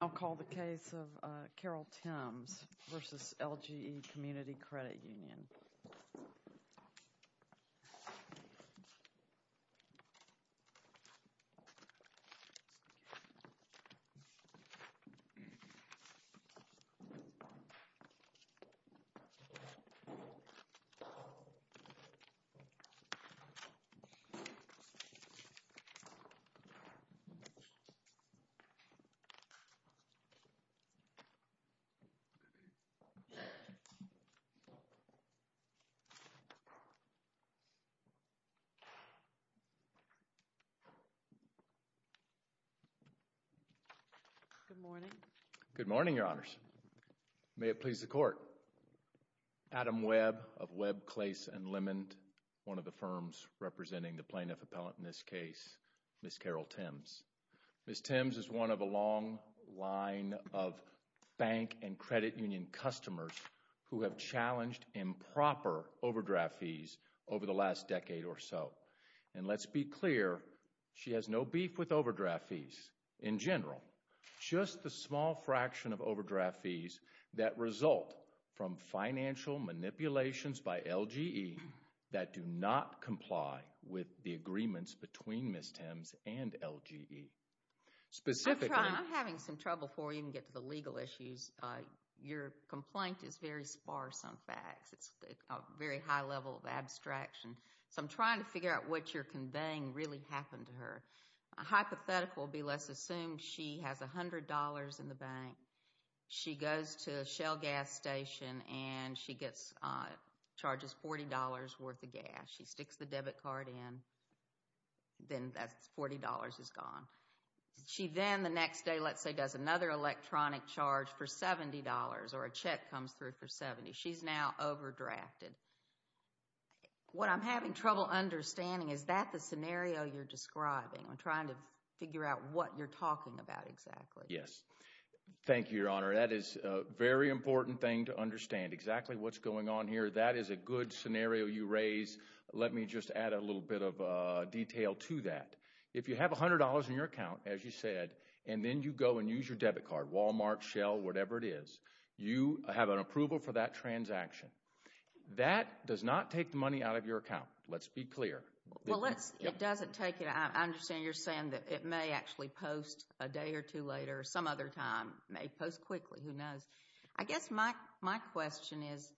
I'll call the case of Carol Tims v. LGE Community Credit Union. Adam Webb of Webb, Clase & Lemon, one of the firms representing the plaintiff appellant in this case, Ms. Carol Tims. Ms. Tims is one of a long line of bank and credit union customers who have challenged improper overdraft fees over the last decade or so. And let's be clear, she has no beef with overdraft fees in general, just the small fraction of overdraft fees that result from financial manipulations by LGE that do not specifically. I'm having some trouble before we even get to the legal issues. Your complaint is very sparse on facts. It's a very high level of abstraction, so I'm trying to figure out what you're conveying really happened to her. A hypothetical would be, let's assume she has $100 in the bank. She goes to a Shell gas station and she charges $40 worth of gas. She sticks the debit card in, then that $40 is gone. She then the next day, let's say, does another electronic charge for $70 or a check comes through for $70. She's now overdrafted. What I'm having trouble understanding, is that the scenario you're describing? I'm trying to figure out what you're talking about exactly. Yes. Thank you, Your Honor. That is a very important thing to understand, exactly what's going on here. That is a good scenario you raise. Let me just add a little bit of detail to that. If you have $100 in your account, as you said, and then you go and use your debit card, Walmart, Shell, whatever it is, you have an approval for that transaction. That does not take the money out of your account. Let's be clear. It doesn't take it. I understand you're saying that it may actually post a day or two later. Some other time. It may post quickly. Who knows? I guess my question is,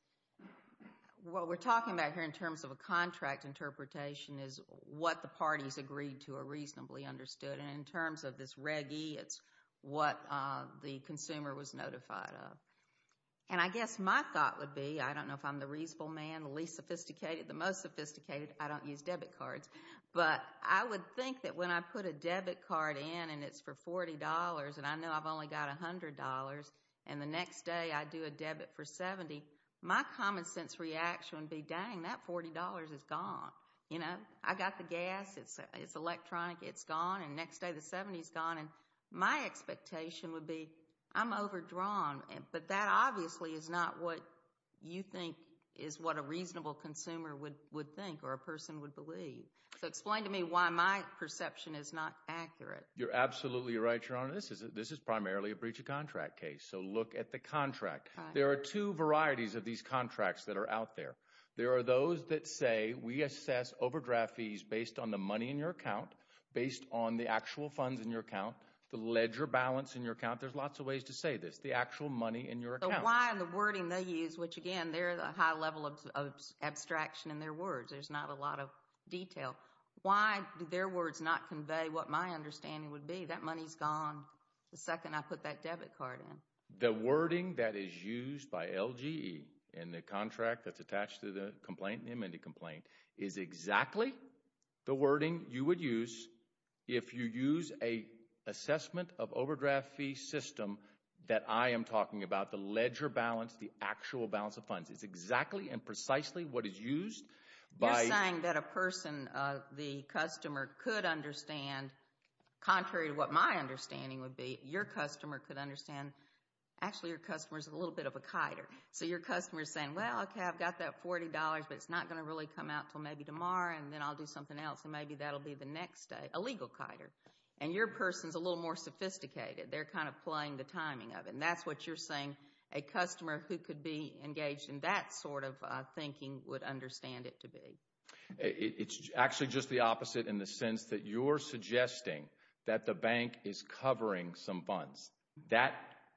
what we're talking about here in terms of a contract interpretation, is what the parties agreed to are reasonably understood. In terms of this Reg E, it's what the consumer was notified of. I guess my thought would be, I don't know if I'm the reasonable man, the least sophisticated, the most sophisticated, I don't use debit cards. I would think that when I put a debit card in, and it's for $40, and I know I've only got $100, and the next day I do a debit for $70, my common sense reaction would be, dang, that $40 is gone. I got the gas, it's electronic, it's gone, and the next day the $70 is gone. My expectation would be, I'm overdrawn, but that obviously is not what you think is what a reasonable consumer would think or a person would believe. So explain to me why my perception is not accurate. You're absolutely right, Your Honor. This is primarily a breach of contract case, so look at the contract. There are two varieties of these contracts that are out there. There are those that say, we assess overdraft fees based on the money in your account, based on the actual funds in your account, the ledger balance in your account, there's lots of ways to say this, the actual money in your account. But why in the wording they use, which again, there is a high level of abstraction in their words, there's not a lot of detail. Why do their words not convey what my understanding would be? That money's gone the second I put that debit card in. The wording that is used by LGE in the contract that's attached to the complaint, the amended complaint, is exactly the wording you would use if you use an assessment of overdraft fee system that I am talking about, the ledger balance, the actual balance of funds. It's exactly and precisely what is used by- You're saying that a person, the customer could understand, contrary to what my understanding would be, your customer could understand, actually your customer's a little bit of a kiter. So your customer's saying, well, okay, I've got that $40, but it's not going to really come out until maybe tomorrow and then I'll do something else and maybe that'll be the next day. A legal kiter. And your person's a little more sophisticated. They're kind of playing the timing of it. And that's what you're saying a customer who could be engaged in that sort of thinking would understand it to be. It's actually just the opposite in the sense that you're suggesting that the bank is covering some funds. That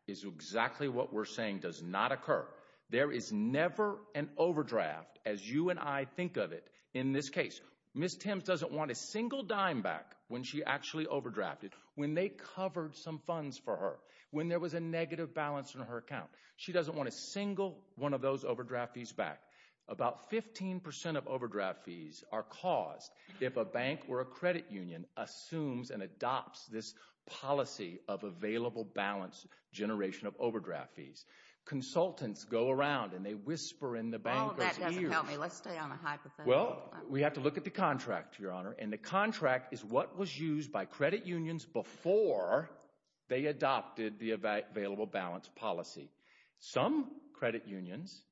is exactly what we're saying does not occur. There is never an overdraft, as you and I think of it, in this case. Ms. Timms doesn't want a single dime back when she actually overdrafted, when they covered some funds for her, when there was a negative balance in her account. She doesn't want a single one of those overdraft fees back. About 15% of overdraft fees are caused if a bank or a credit union assumes and adopts this policy of available balance generation of overdraft fees. Consultants go around and they whisper in the bankers' ears. Well, that doesn't help me. Let's stay on the hypothetical. Well, we have to look at the contract, Your Honor, and the contract is what was used by Some credit unions,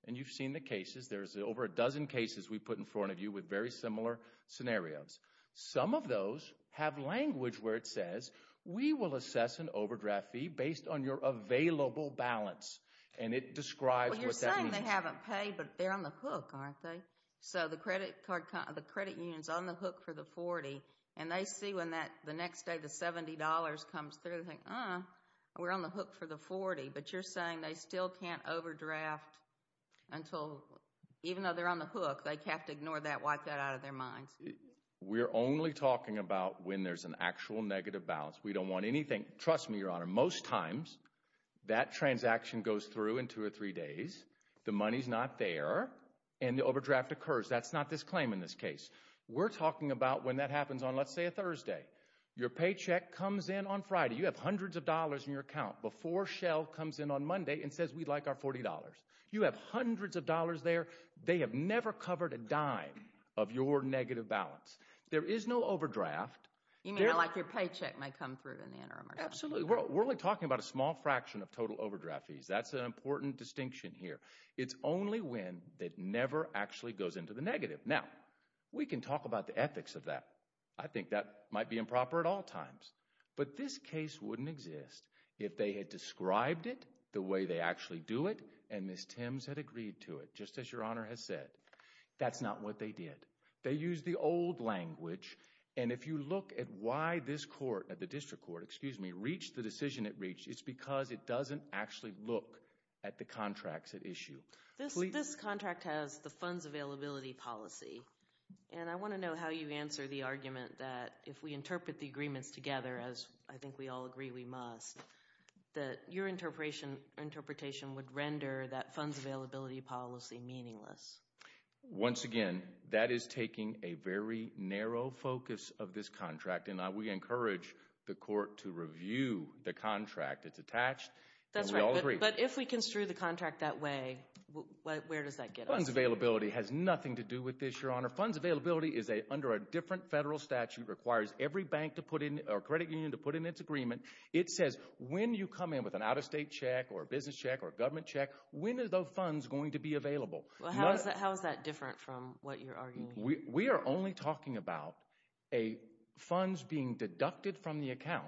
and you've seen the cases, there's over a dozen cases we've put in front of you with very similar scenarios. Some of those have language where it says, we will assess an overdraft fee based on your available balance. It describes what that means. Well, you're saying they haven't paid, but they're on the hook, aren't they? The credit union's on the hook for the 40, and they see when the next day the $70 comes through, they think, uh, we're on the hook for the 40, but you're saying they still can't overdraft until, even though they're on the hook, they have to ignore that, wipe that out of their minds. We're only talking about when there's an actual negative balance. We don't want anything, trust me, Your Honor, most times that transaction goes through in two or three days, the money's not there, and the overdraft occurs. That's not this claim in this case. Your paycheck comes in on Friday, you have hundreds of dollars in your account, before Shell comes in on Monday and says, we'd like our $40. You have hundreds of dollars there, they have never covered a dime of your negative balance. There is no overdraft. You mean, like your paycheck might come through in the interim or something? Absolutely. We're only talking about a small fraction of total overdraft fees. That's an important distinction here. It's only when that never actually goes into the negative. Now, we can talk about the ethics of that. I think that might be improper at all times, but this case wouldn't exist if they had described it the way they actually do it, and Ms. Timms had agreed to it, just as Your Honor has said. That's not what they did. They used the old language, and if you look at why this court, at the district court, excuse me, reached the decision it reached, it's because it doesn't actually look at the contracts at issue. This contract has the funds availability policy, and I want to know how you answer the argument that if we interpret the agreements together, as I think we all agree we must, that your interpretation would render that funds availability policy meaningless. Once again, that is taking a very narrow focus of this contract, and we encourage the court to review the contract. It's attached, and we all agree. But if we construe the contract that way, where does that get us? Funds availability has nothing to do with this, Your Honor. Funds availability is under a different federal statute, requires every bank to put in, or credit union to put in its agreement. It says when you come in with an out-of-state check, or a business check, or a government check, when are those funds going to be available? How is that different from what you're arguing? We are only talking about funds being deducted from the account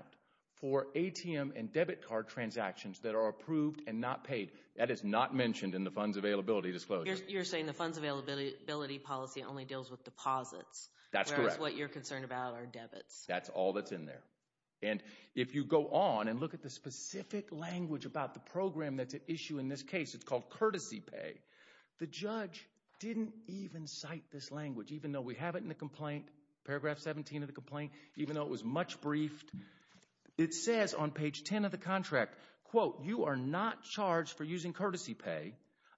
for ATM and debit card transactions that are approved and not paid. That is not mentioned in the funds availability disclosure. You're saying the funds availability policy only deals with deposits, whereas what you're concerned about are debits. That's all that's in there. And if you go on and look at the specific language about the program that's at issue in this case, it's called courtesy pay. The judge didn't even cite this language, even though we have it in the complaint, paragraph 17 of the complaint, even though it was much briefed. It says on page 10 of the contract, quote, you are not charged for using courtesy pay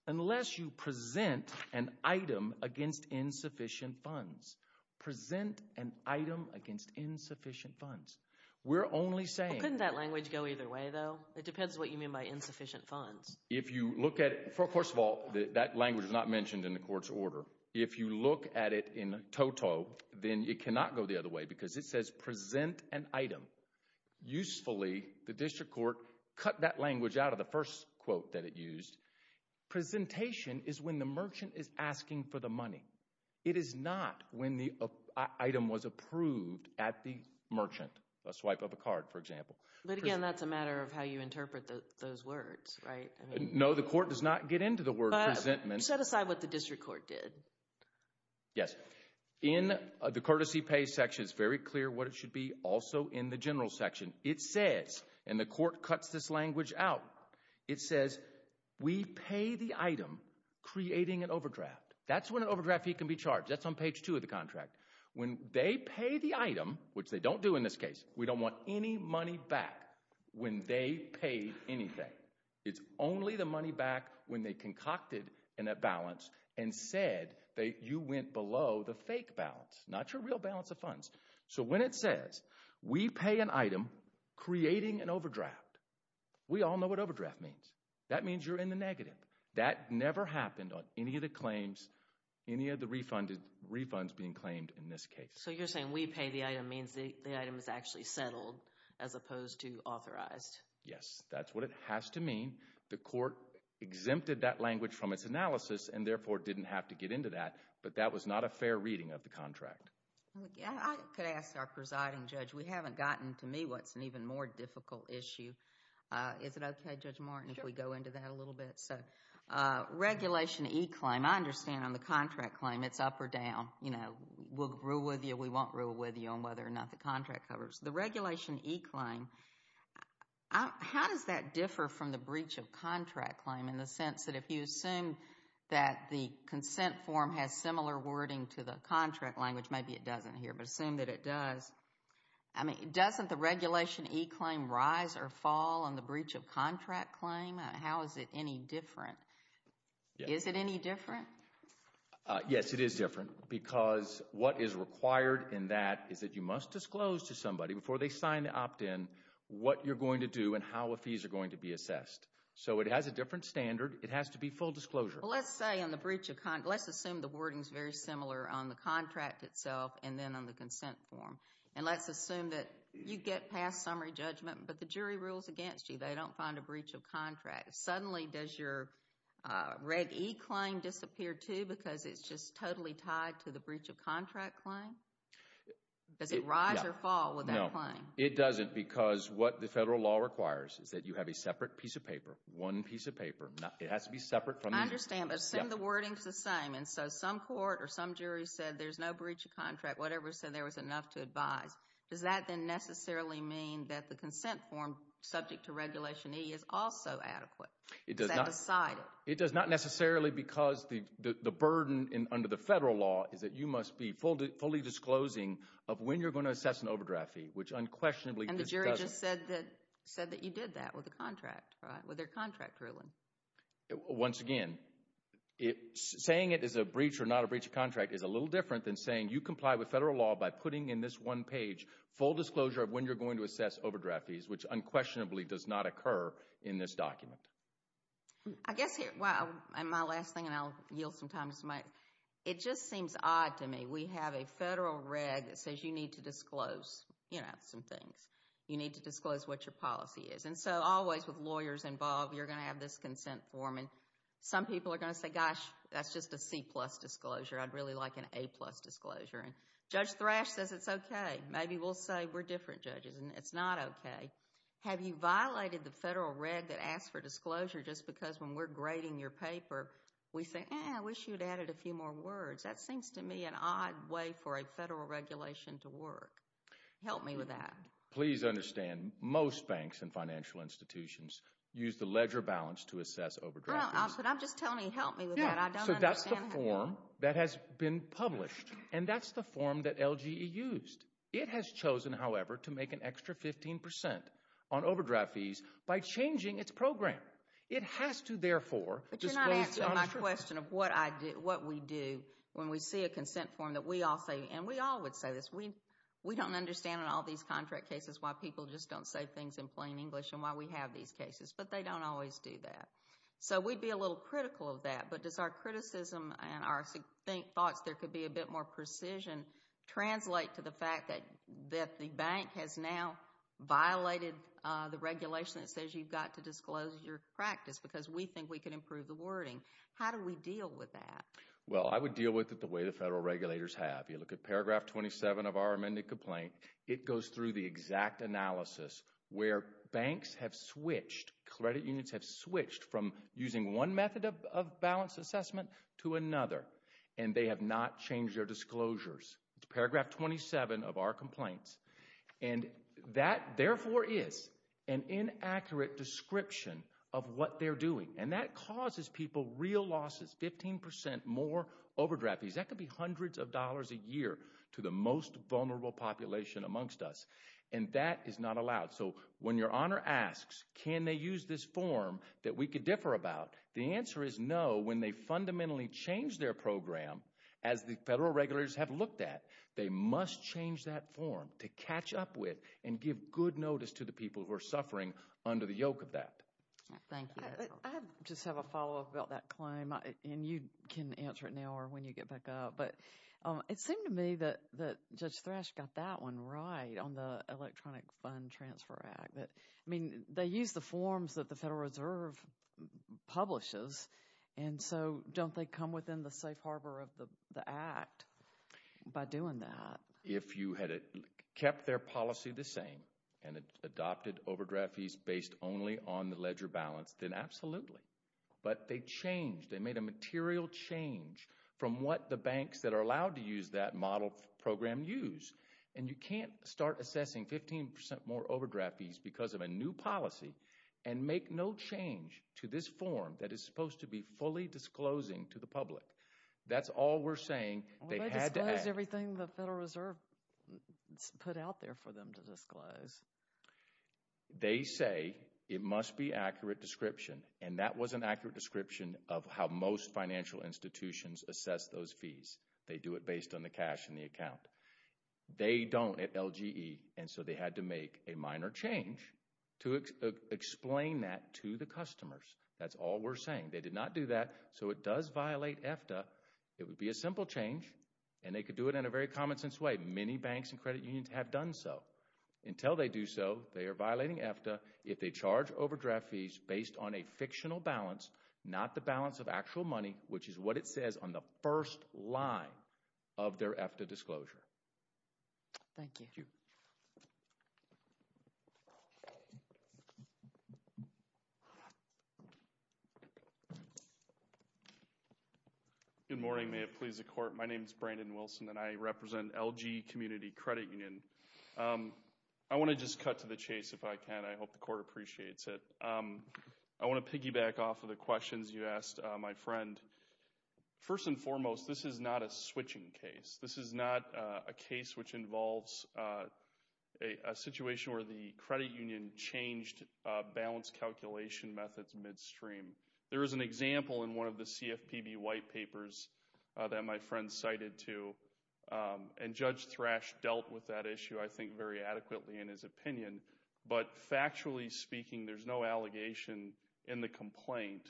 unless you present an item against insufficient funds. Present an item against insufficient funds. We're only saying... Couldn't that language go either way, though? It depends what you mean by insufficient funds. If you look at it, first of all, that language is not mentioned in the court's order. If you look at it in TOTO, then it cannot go the other way because it says present an item. Usefully, the district court cut that language out of the first quote that it used. Presentation is when the merchant is asking for the money. It is not when the item was approved at the merchant, a swipe of a card, for example. But again, that's a matter of how you interpret those words, right? No, the court does not get into the word presentment. But set aside what the district court did. Yes. In the courtesy pay section, it's very clear what it should be. Also in the general section, it says, and the court cuts this language out, it says we pay the item creating an overdraft. That's when an overdraft fee can be charged. That's on page two of the contract. When they pay the item, which they don't do in this case, we don't want any money back when they paid anything. It's only the money back when they concocted an imbalance and said that you went below the fake balance, not your real balance of funds. So when it says we pay an item creating an overdraft, we all know what overdraft means. That means you're in the negative. That never happened on any of the claims, any of the refunds being claimed in this case. So you're saying we pay the item means the item is actually settled as opposed to authorized. Yes, that's what it has to mean. The court exempted that language from its analysis and therefore didn't have to get into that, but that was not a fair reading of the contract. I could ask our presiding judge, we haven't gotten to me what's an even more difficult issue. Is it okay, Judge Martin, if we go into that a little bit? Regulation E claim, I understand on the contract claim it's up or down. You know, we'll rule with you, we won't rule with you on whether or not the contract covers. The regulation E claim, how does that differ from the breach of contract claim in the sense that if you assume that the consent form has similar wording to the contract language, maybe it doesn't here, but assume that it does, I mean, doesn't the regulation E claim rise or fall on the breach of contract claim? How is it any different? Is it any different? Yes, it is different because what is required in that is that you must disclose to somebody before they sign the opt-in what you're going to do and how the fees are going to be assessed. So it has a different standard. It has to be full disclosure. Well, let's say on the breach of contract, let's assume the wording is very similar on the contract itself and then on the consent form. And let's assume that you get past summary judgment, but the jury rules against you. They don't find a breach of contract. Suddenly does your Reg E claim disappear too because it's just totally tied to the breach of contract claim? Does it rise or fall with that claim? It doesn't because what the federal law requires is that you have a separate piece of paper, one piece of paper. It has to be separate. I understand, but assume the wording is the same and so some court or some jury said there's no breach of contract, whatever, so there was enough to advise. Does that then necessarily mean that the consent form subject to Regulation E is also adequate? It does not necessarily because the burden under the federal law is that you must be fully disclosing of when you're going to assess an overdraft fee, which unquestionably And the jury just said that you did that with the contract, right, with their contract ruling. Once again, saying it is a breach or not a breach of contract is a little different than saying you comply with federal law by putting in this one page full disclosure of when you're going to assess overdraft fees, which unquestionably does not occur in this document. I guess here, my last thing and I'll yield some time to somebody. It just seems odd to me. We have a federal reg that says you need to disclose, you know, some things. You need to disclose what your policy is and so always with lawyers involved, you're going to have this consent form and some people are going to say, gosh, that's just a C plus disclosure. I'd really like an A plus disclosure and Judge Thrash says it's okay. Maybe we'll say we're different judges and it's not okay. Have you violated the federal reg that asks for disclosure just because when we're grading your paper, we say, eh, I wish you'd added a few more words. That seems to me an odd way for a federal regulation to work. Help me with that. Please understand, most banks and financial institutions use the ledger balance to assess overdraft fees. I'm just telling you, help me with that. I don't understand how. Yeah, so that's the form that has been published and that's the form that LGE used. It has chosen, however, to make an extra 15% on overdraft fees by changing its program. It has to, therefore, disclose. But you're not answering my question of what we do when we see a consent form that we all say, and we all would say this, we don't understand in all these contract cases why people just don't say things in plain English and why we have these cases, but they don't always do that. So, we'd be a little critical of that, but does our criticism and our thoughts there could be a bit more precision translate to the fact that the bank has now violated the disclosure practice because we think we can improve the wording. How do we deal with that? Well, I would deal with it the way the federal regulators have. You look at paragraph 27 of our amended complaint. It goes through the exact analysis where banks have switched, credit unions have switched from using one method of balance assessment to another, and they have not changed their disclosures. It's paragraph 27 of our complaints. And that, therefore, is an inaccurate description of what they're doing. And that causes people real losses, 15% more overdraft fees, that could be hundreds of dollars a year to the most vulnerable population amongst us. And that is not allowed. So, when your honor asks, can they use this form that we could differ about, the answer is no. When they fundamentally change their program, as the federal regulators have looked at, they must change that form to catch up with and give good notice to the people who are suffering under the yoke of that. Thank you. I just have a follow-up about that claim, and you can answer it now or when you get back up. But it seemed to me that Judge Thrash got that one right on the Electronic Fund Transfer Act. I mean, they use the forms that the Federal Reserve publishes, and so don't they come within the safe harbor of the Act by doing that? If you had kept their policy the same and adopted overdraft fees based only on the ledger balance, then absolutely. But they changed, they made a material change from what the banks that are allowed to use that model program use. And you can't start assessing 15% more overdraft fees because of a new policy and make no change to this form that is supposed to be fully disclosing to the public. That's all we're saying. They had to act. Well, they disclosed everything the Federal Reserve put out there for them to disclose. They say it must be accurate description, and that was an accurate description of how most financial institutions assess those fees. They do it based on the cash in the account. They don't at LGE, and so they had to make a minor change to explain that to the customers. That's all we're saying. They did not do that, so it does violate EFTA. It would be a simple change, and they could do it in a very common sense way. Many banks and credit unions have done so. Until they do so, they are violating EFTA if they charge overdraft fees based on a fictional balance, not the balance of actual money, which is what it says on the first line of their EFTA disclosure. Thank you. Thank you. Good morning. May it please the Court. My name is Brandon Wilson, and I represent LG Community Credit Union. I want to just cut to the chase if I can. I hope the Court appreciates it. I want to piggyback off of the questions you asked, my friend. First and foremost, this is not a switching case. This is not a case which involves a situation where the credit union changed balance calculation methods midstream. There is an example in one of the CFPB white papers that my friend cited, too, and Judge Thrash dealt with that issue, I think, very adequately in his opinion. But factually speaking, there's no allegation in the complaint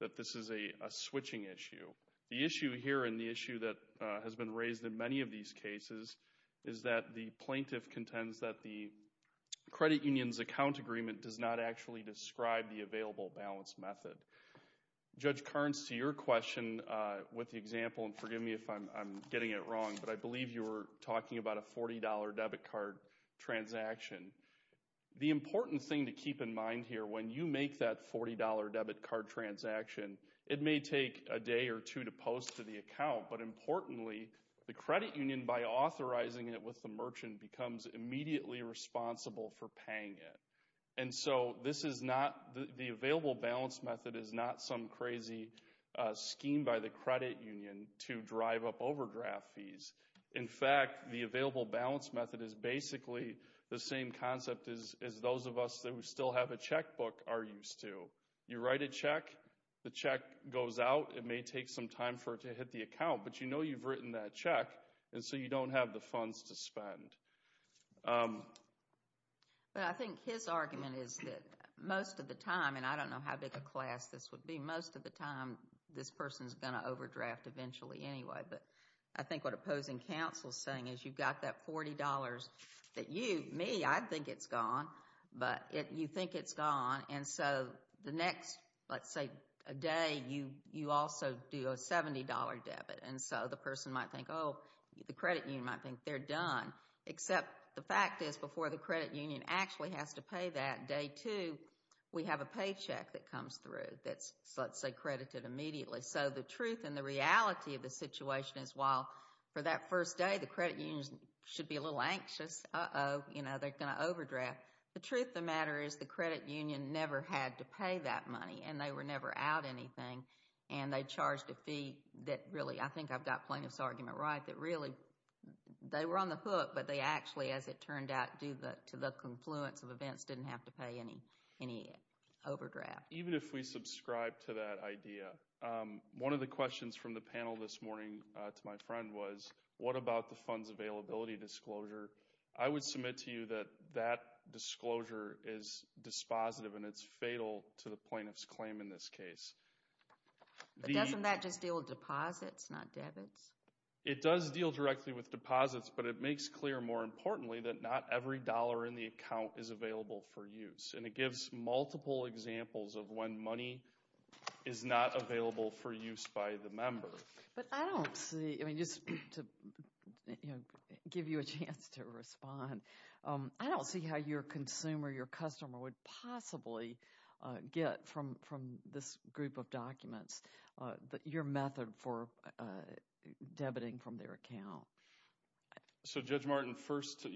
that this is a switching issue. The issue here, and the issue that has been raised in many of these cases, is that the plaintiff contends that the credit union's account agreement does not actually describe the available balance method. Judge Carnes, to your question with the example, and forgive me if I'm getting it wrong, but I believe you were talking about a $40 debit card transaction. The important thing to keep in mind here, when you make that $40 debit card transaction, it may take a day or two to post to the account, but importantly, the credit union, by authorizing it with the merchant, becomes immediately responsible for paying it. And so this is not, the available balance method is not some crazy scheme by the credit union to drive up overdraft fees. In fact, the available balance method is basically the same concept as those of us that still have a checkbook are used to. You write a check, the check goes out, it may take some time for it to hit the account, but you know you've written that check, and so you don't have the funds to spend. But I think his argument is that most of the time, and I don't know how big a class this would be, most of the time this person's going to overdraft eventually anyway, but I think what opposing counsel's saying is you've got that $40 that you, me, I'd think it's gone, but you think it's gone, and so the next, let's say, a day, you also do a $70 debit, and so the person might think, oh, the credit union might think they're done, except the fact is before the credit union actually has to pay that day two, we have a paycheck that comes through that's, let's say, credited immediately. So the truth and the reality of the situation is while for that first day the credit unions should be a little anxious, uh-oh, they're going to overdraft, the truth of the matter is the credit union never had to pay that money, and they were never out anything, and they charged a fee that really, I think I've got plaintiff's argument right, that really, they were on the hook, but they actually, as it turned out, due to the confluence of any overdraft. Even if we subscribe to that idea, one of the questions from the panel this morning to my friend was, what about the funds availability disclosure? I would submit to you that that disclosure is dispositive, and it's fatal to the plaintiff's claim in this case. But doesn't that just deal with deposits, not debits? It does deal directly with deposits, but it makes clear, more importantly, that not every dollar in the account is available for use, and it gives multiple examples of when money is not available for use by the member. But I don't see, just to give you a chance to respond, I don't see how your consumer, your customer would possibly get from this group of documents your method for debiting from their account. So Judge Martin, first, to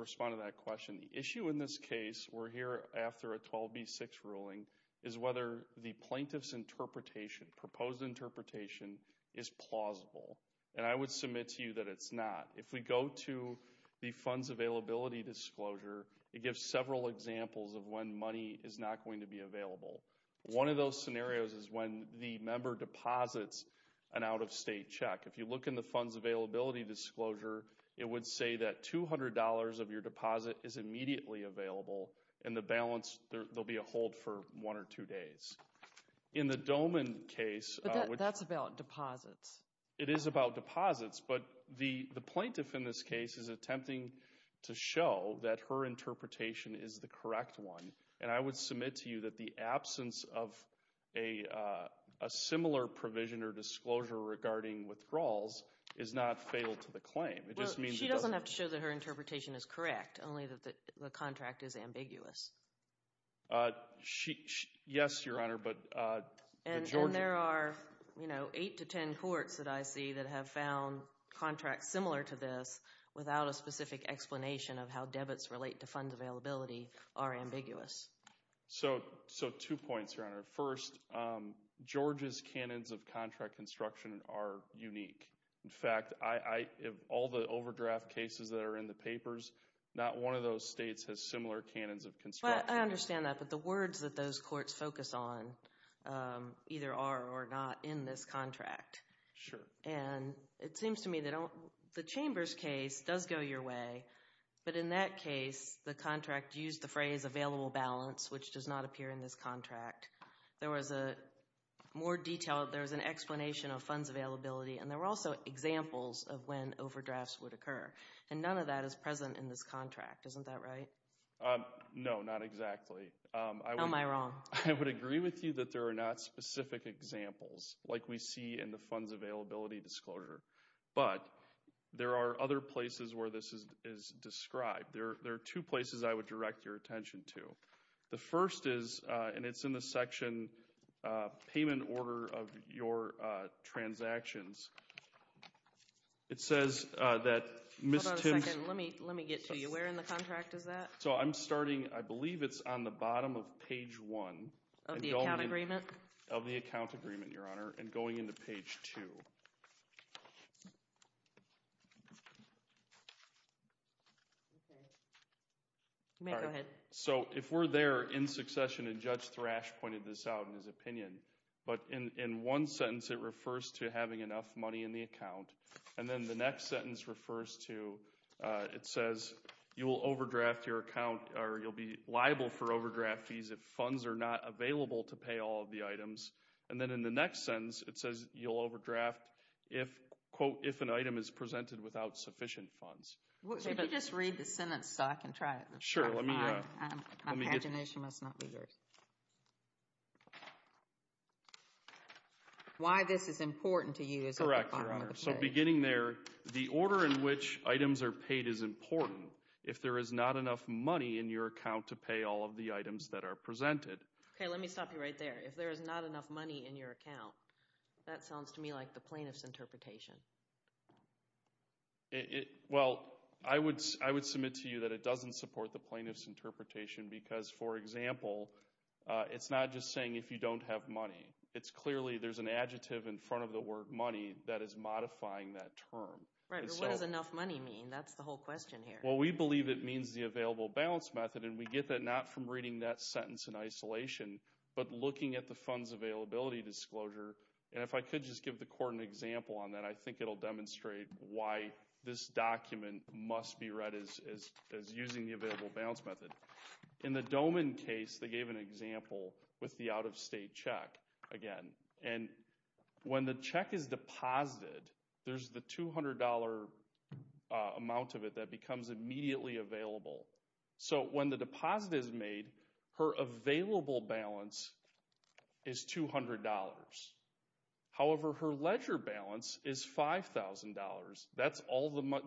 respond to that question, the issue in this case, we're here after a 12B6 ruling, is whether the plaintiff's interpretation, proposed interpretation, is plausible. And I would submit to you that it's not. If we go to the funds availability disclosure, it gives several examples of when money is not going to be available. One of those scenarios is when the member deposits an out-of-state check. If you look in the funds availability disclosure, it would say that $200 of your deposit is immediately available, and the balance, there'll be a hold for one or two days. In the Doman case, that's about deposits. It is about deposits, but the plaintiff in this case is attempting to show that her interpretation is the correct one, and I would submit to you that the absence of a similar provision or disclosure regarding withdrawals is not fatal to the claim. It just means it doesn't... Well, she doesn't have to show that her interpretation is correct, only that the contract is ambiguous. Yes, Your Honor, but the Georgia... And there are, you know, eight to ten courts that I see that have found contracts similar to this without a specific explanation of how debits relate to funds availability are ambiguous. So, two points, Your Honor. First, Georgia's canons of contract construction are unique. In fact, all the overdraft cases that are in the papers, not one of those states has similar canons of construction. Well, I understand that, but the words that those courts focus on either are or are not in this contract. Sure. And it seems to me they don't... The Chambers case does go your way, but in that case, the contract used the phrase available balance, which does not appear in this contract. There was a more detailed, there was an explanation of funds availability, and there were also examples of when overdrafts would occur. And none of that is present in this contract, isn't that right? No, not exactly. Am I wrong? I would agree with you that there are not specific examples like we see in the funds availability disclosure, but there are other places where this is described. There are two places I would direct your attention to. The first is, and it's in the section, payment order of your transactions. It says that Ms. Timms... Hold on a second. Let me get to you. Where in the contract is that? So, I'm starting, I believe it's on the bottom of page one. Of the account agreement? Of the account agreement, Your Honor, and going into page two. You may go ahead. So if we're there in succession, and Judge Thrash pointed this out in his opinion. But in one sentence, it refers to having enough money in the account. And then the next sentence refers to, it says, you will overdraft your account, or you'll be liable for overdraft fees if funds are not available to pay all of the items. And then in the next sentence, it says, you'll overdraft if, quote, if an item is presented without sufficient funds. Could you just read the sentence so I can try it? Sure. Let me... My pagination must not be yours. Why this is important to you is at the bottom of the page. Correct, Your Honor. So beginning there, the order in which items are paid is important. If there is not enough money in your account to pay all of the items that are presented. Okay, let me stop you right there. If there is not enough money in your account, that sounds to me like the plaintiff's interpretation. Well, I would submit to you that it doesn't support the plaintiff's interpretation because, for example, it's not just saying if you don't have money. It's clearly there's an adjective in front of the word money that is modifying that term. Right, but what does enough money mean? That's the whole question here. Well, we believe it means the available balance method, and we get that not from reading that We get the funds availability disclosure, and if I could just give the court an example on that, I think it'll demonstrate why this document must be read as using the available balance method. In the Doman case, they gave an example with the out-of-state check again, and when the check is deposited, there's the $200 amount of it that becomes immediately available. So when the deposit is made, her available balance is $200. However, her ledger balance is $5,000.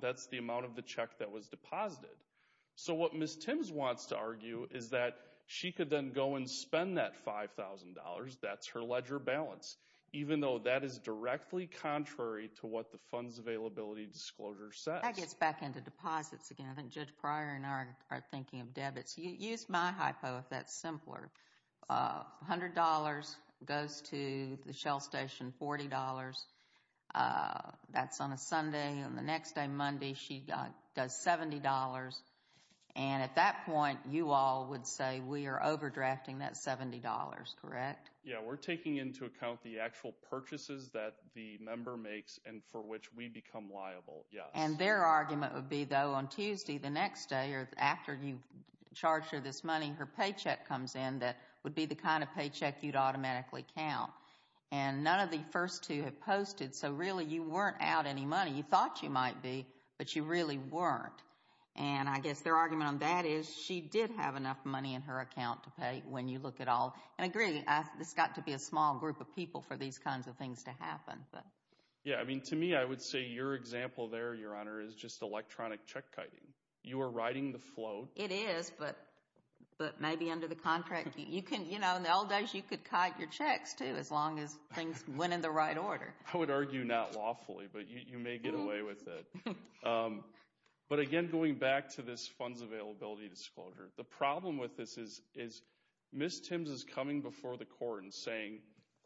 That's the amount of the check that was deposited. So what Ms. Timms wants to argue is that she could then go and spend that $5,000. That's her ledger balance, even though that is directly contrary to what the funds availability disclosure says. That gets back into deposits again. I think Judge Pryor and I are thinking of debits. Use my hypo if that's simpler. $100 goes to the Shell Station, $40. That's on a Sunday. On the next day, Monday, she does $70. And at that point, you all would say we are overdrafting that $70, correct? Yeah, we're taking into account the actual purchases that the member makes and for which we become liable, yes. And their argument would be, though, on Tuesday, the next day after you charge her this money, her paycheck comes in that would be the kind of paycheck you'd automatically count. And none of the first two have posted, so really you weren't out any money. You thought you might be, but you really weren't. And I guess their argument on that is she did have enough money in her account to pay when you look at all. And I agree, this has got to be a small group of people for these kinds of things to happen. Yeah, I mean, to me, I would say your example there, Your Honor, is just electronic check kiting. You are riding the float. It is, but maybe under the contract, you can, you know, in the old days, you could kite your checks, too, as long as things went in the right order. I would argue not lawfully, but you may get away with it. But again, going back to this funds availability disclosure, the problem with this is Ms. Timms is coming before the court and saying,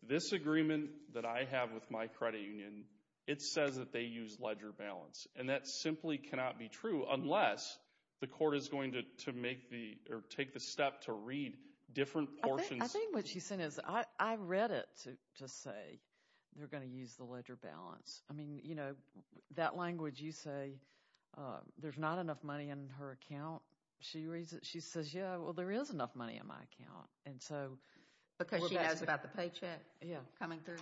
this agreement that I have with my credit union, it says that they use ledger balance. And that simply cannot be true unless the court is going to make the, or take the step to read different portions. I think what she's saying is, I read it to say they're going to use the ledger balance. I mean, you know, that language you say, there's not enough money in her account. She reads it, she says, yeah, well, there is enough money in my account. Because she has about the paycheck coming through?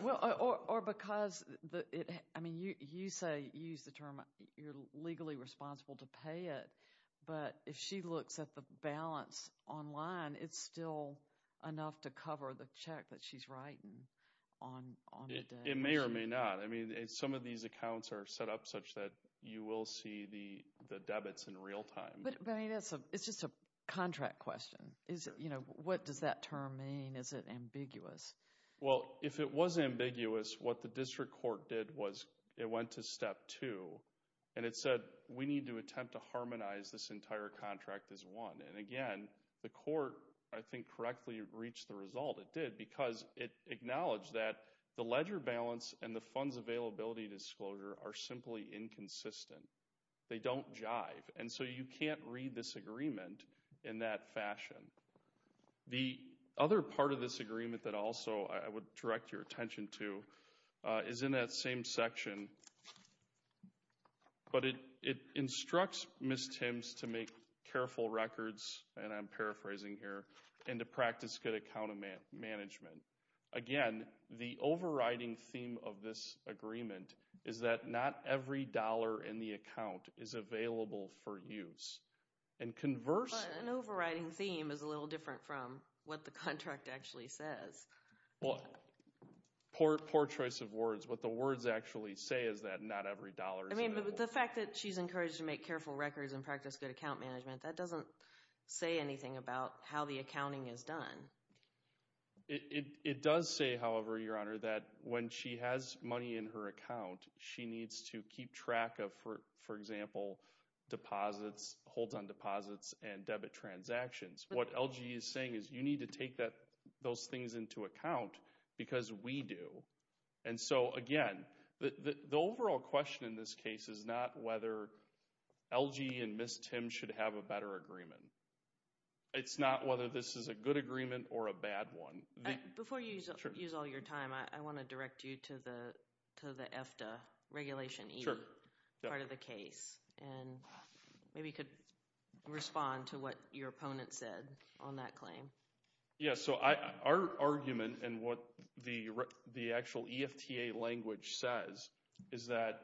Well, or because, I mean, you say, you use the term, you're legally responsible to pay it. But if she looks at the balance online, it's still enough to cover the check that she's writing on the day. It may or may not. I mean, some of these accounts are set up such that you will see the debits in real time. But, I mean, it's just a contract question. Is, you know, what does that term mean? Is it ambiguous? Well, if it was ambiguous, what the district court did was, it went to step two. And it said, we need to attempt to harmonize this entire contract as one. And again, the court, I think, correctly reached the result. It did, because it acknowledged that the ledger balance and the funds availability disclosure are simply inconsistent. They don't jive. And so you can't read this agreement in that fashion. The other part of this agreement that also I would direct your attention to is in that same section. But it instructs Ms. Timms to make careful records, and I'm paraphrasing here, and to practice good account management. Again, the overriding theme of this agreement is that not every dollar in the account is available for use. And conversely... But an overriding theme is a little different from what the contract actually says. Well, poor choice of words. What the words actually say is that not every dollar is available. I mean, but the fact that she's encouraged to make careful records and practice good account management, that doesn't say anything about how the accounting is done. It does say, however, Your Honor, that when she has money in her account, she needs to keep track of, for example, deposits, holds on deposits, and debit transactions. What LG is saying is you need to take those things into account because we do. And so, again, the overall question in this case is not whether LG and Ms. Timms should have a better agreement. It's not whether this is a good agreement or a bad one. Before you use all your time, I want to direct you to the EFTA regulation part of the case. And maybe you could respond to what your opponent said on that claim. Yeah. So our argument and what the actual EFTA language says is that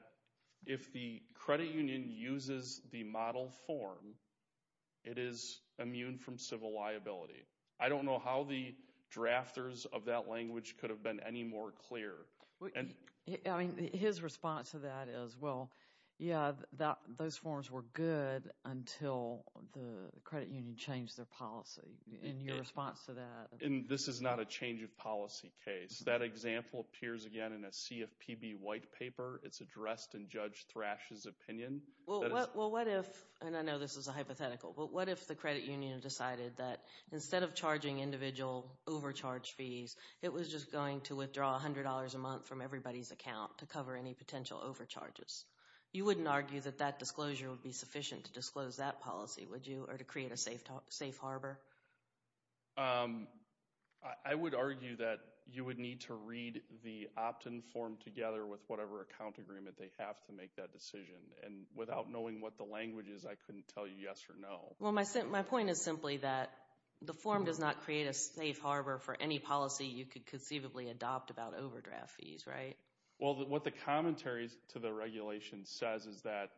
if the credit union uses the model form, it is immune from civil liability. I don't know how the drafters of that language could have been any more clear. His response to that is, well, yeah, those forms were good until the credit union changed their policy. And your response to that? This is not a change of policy case. That example appears again in a CFPB white paper. It's addressed in Judge Thrash's opinion. Well, what if, and I know this is a hypothetical, but what if the credit union decided that instead of charging individual overcharge fees, it was just going to withdraw $100 a month from everybody's account to cover any potential overcharges? You wouldn't argue that that disclosure would be sufficient to disclose that policy, would you, or to create a safe harbor? I would argue that you would need to read the opt-in form together with whatever account agreement they have to make that decision. And without knowing what the language is, I couldn't tell you yes or no. Well, my point is simply that the form does not create a safe harbor for any policy you could conceivably adopt about overdraft fees, right? Well, what the commentary to the regulation says is that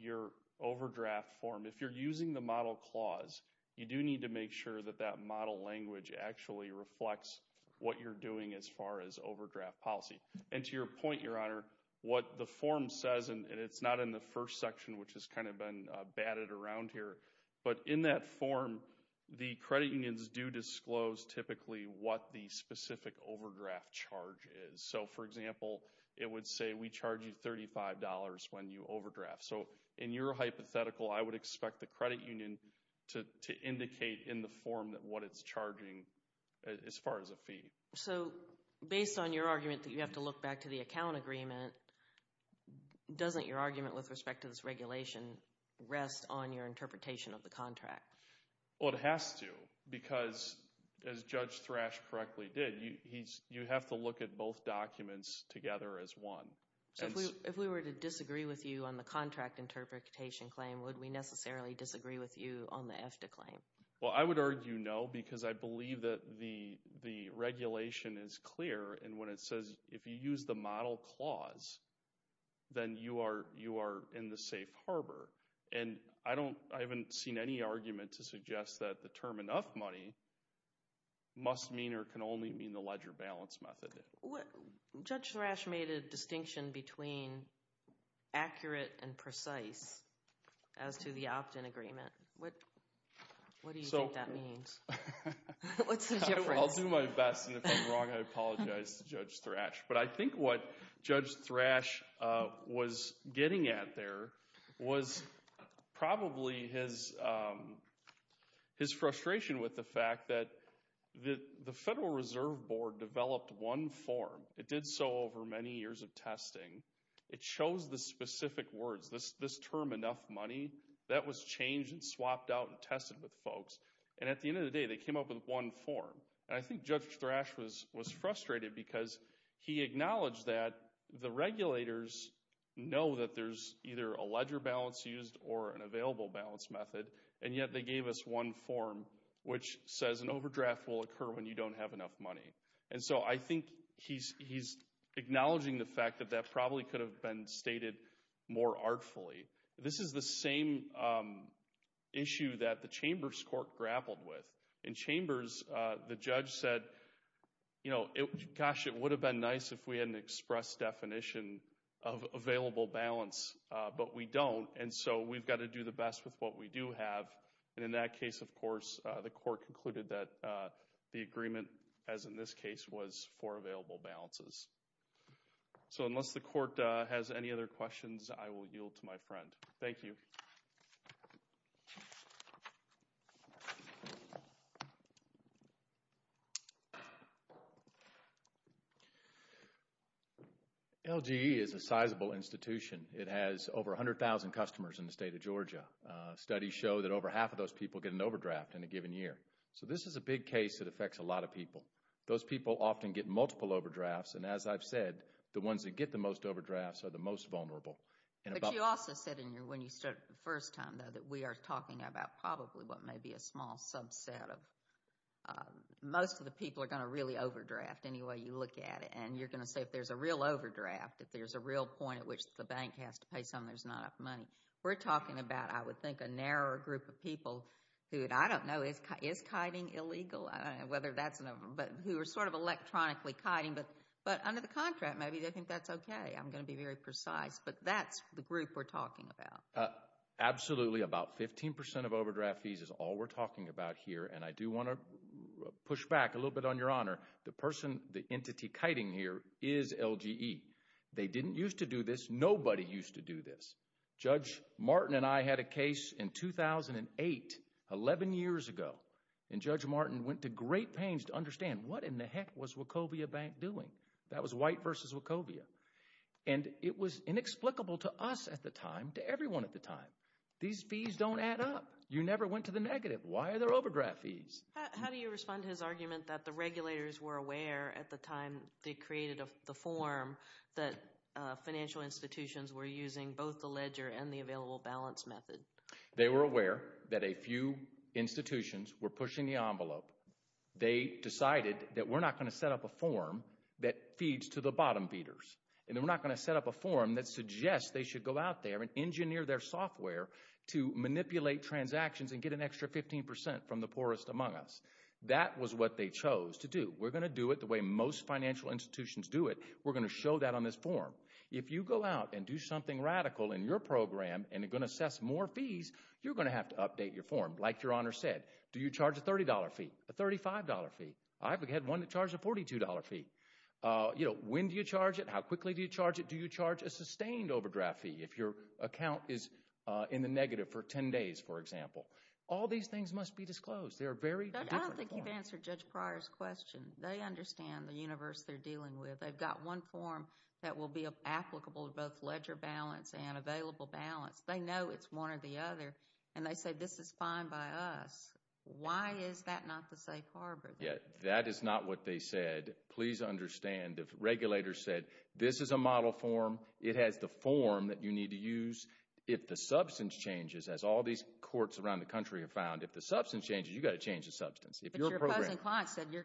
your overdraft form, if you're using the model clause, you do need to make sure that that model language actually reflects what you're doing as far as overdraft policy. And to your point, Your Honor, what the form says, and it's not in the first section, which has kind of been batted around here, but in that form, the credit unions do disclose typically what the specific overdraft charge is. So for example, it would say we charge you $35 when you overdraft. So in your hypothetical, I would expect the credit union to indicate in the form what it's charging as far as a fee. So based on your argument that you have to look back to the account agreement, doesn't your argument with respect to this regulation rest on your interpretation of the contract? Well, it has to because, as Judge Thrash correctly did, you have to look at both documents together as one. So if we were to disagree with you on the contract interpretation claim, would we necessarily disagree with you on the EFTA claim? Well, I would argue no because I believe that the regulation is clear and when it says if you use the model clause, then you are in the safe harbor. And I haven't seen any argument to suggest that the term enough money must mean or can only mean the ledger balance method. Judge Thrash made a distinction between accurate and precise as to the opt-in agreement. What do you think that means? What's the difference? I'll do my best and if I'm wrong, I apologize to Judge Thrash. But I think what Judge Thrash was getting at there was probably his frustration with the fact that the Federal Reserve Board developed one form. It did so over many years of testing. It chose the specific words. This term, enough money, that was changed and swapped out and tested with folks. And at the end of the day, they came up with one form. And I think Judge Thrash was frustrated because he acknowledged that the regulators know that there's either a ledger balance used or an available balance method and yet they gave us one form which says an overdraft will occur when you don't have enough money. And so I think he's acknowledging the fact that that probably could have been stated more artfully. This is the same issue that the Chambers court grappled with. In Chambers, the judge said, you know, gosh, it would have been nice if we had an express definition of available balance but we don't and so we've got to do the best with what we do have. And in that case, of course, the court concluded that the agreement, as in this case, was for available balances. So unless the court has any other questions, I will yield to my friend. Thank you. Thank you. LGE is a sizable institution. It has over 100,000 customers in the state of Georgia. Studies show that over half of those people get an overdraft in a given year. So this is a big case that affects a lot of people. Those people often get multiple overdrafts and as I've said, the ones that get the most overdrafts are the most vulnerable. But you also said in your, when you started the first time though, that we are talking about probably what may be a small subset of, most of the people are going to really overdraft any way you look at it. And you're going to say if there's a real overdraft, if there's a real point at which the bank has to pay some, there's not enough money. We're talking about, I would think, a narrower group of people who, I don't know, is kiting illegal? I don't know whether that's, but who are sort of electronically kiting but under the contract maybe they think that's okay. I'm going to be very precise but that's the group we're talking about. Absolutely, about 15% of overdraft fees is all we're talking about here and I do want to push back a little bit on your honor. The person, the entity kiting here is LGE. They didn't used to do this. Nobody used to do this. Judge Martin and I had a case in 2008, 11 years ago, and Judge Martin went to great pains to understand what in the heck was Wachovia Bank doing? That was White v. Wachovia. And it was inexplicable to us at the time, to everyone at the time, these fees don't add up. You never went to the negative. Why are there overdraft fees? How do you respond to his argument that the regulators were aware at the time they created the form that financial institutions were using both the ledger and the available balance They were aware that a few institutions were pushing the envelope. They decided that we're not going to set up a form that feeds to the bottom feeders and we're not going to set up a form that suggests they should go out there and engineer their software to manipulate transactions and get an extra 15% from the poorest among us. That was what they chose to do. We're going to do it the way most financial institutions do it. We're going to show that on this form. If you go out and do something radical in your program and going to assess more fees, you're going to have to update your form. Like Your Honor said, do you charge a $30 fee, a $35 fee? I've had one that charged a $42 fee. When do you charge it? How quickly do you charge it? Do you charge a sustained overdraft fee if your account is in the negative for 10 days, for example? All these things must be disclosed. They're very different forms. I don't think you've answered Judge Pryor's question. They understand the universe they're dealing with. They've got one form that will be applicable to both ledger balance and available balance. They know it's one or the other, and they say this is fine by us. Why is that not the safe harbor? That is not what they said. Please understand, the regulators said this is a model form. It has the form that you need to use. If the substance changes, as all these courts around the country have found, if the substance changes, you've got to change the substance. But your opposing client said you're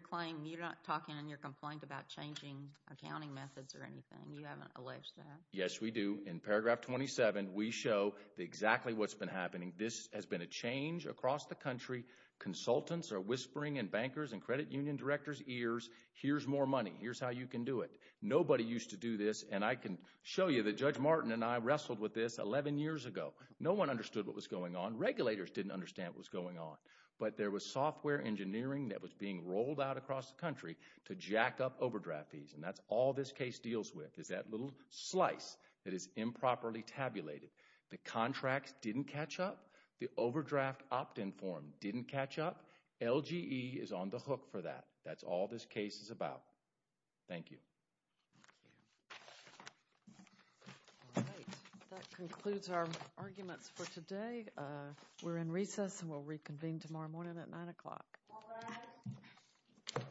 not talking in your complaint about changing accounting methods or anything. You haven't alleged that. Yes, we do. In paragraph 27, we show exactly what's been happening. This has been a change across the country. Consultants are whispering in bankers' and credit union directors' ears, here's more money. Here's how you can do it. Nobody used to do this. And I can show you that Judge Martin and I wrestled with this 11 years ago. No one understood what was going on. Regulators didn't understand what was going on. But there was software engineering that was being rolled out across the country to jack up overdraft fees. And that's all this case deals with. It's that little slice that is improperly tabulated. The contracts didn't catch up. The overdraft opt-in form didn't catch up. LGE is on the hook for that. That's all this case is about. Thank you. Thank you. All right. That concludes our arguments for today. We're in recess and we'll reconvene tomorrow morning at 9 o'clock. All rise.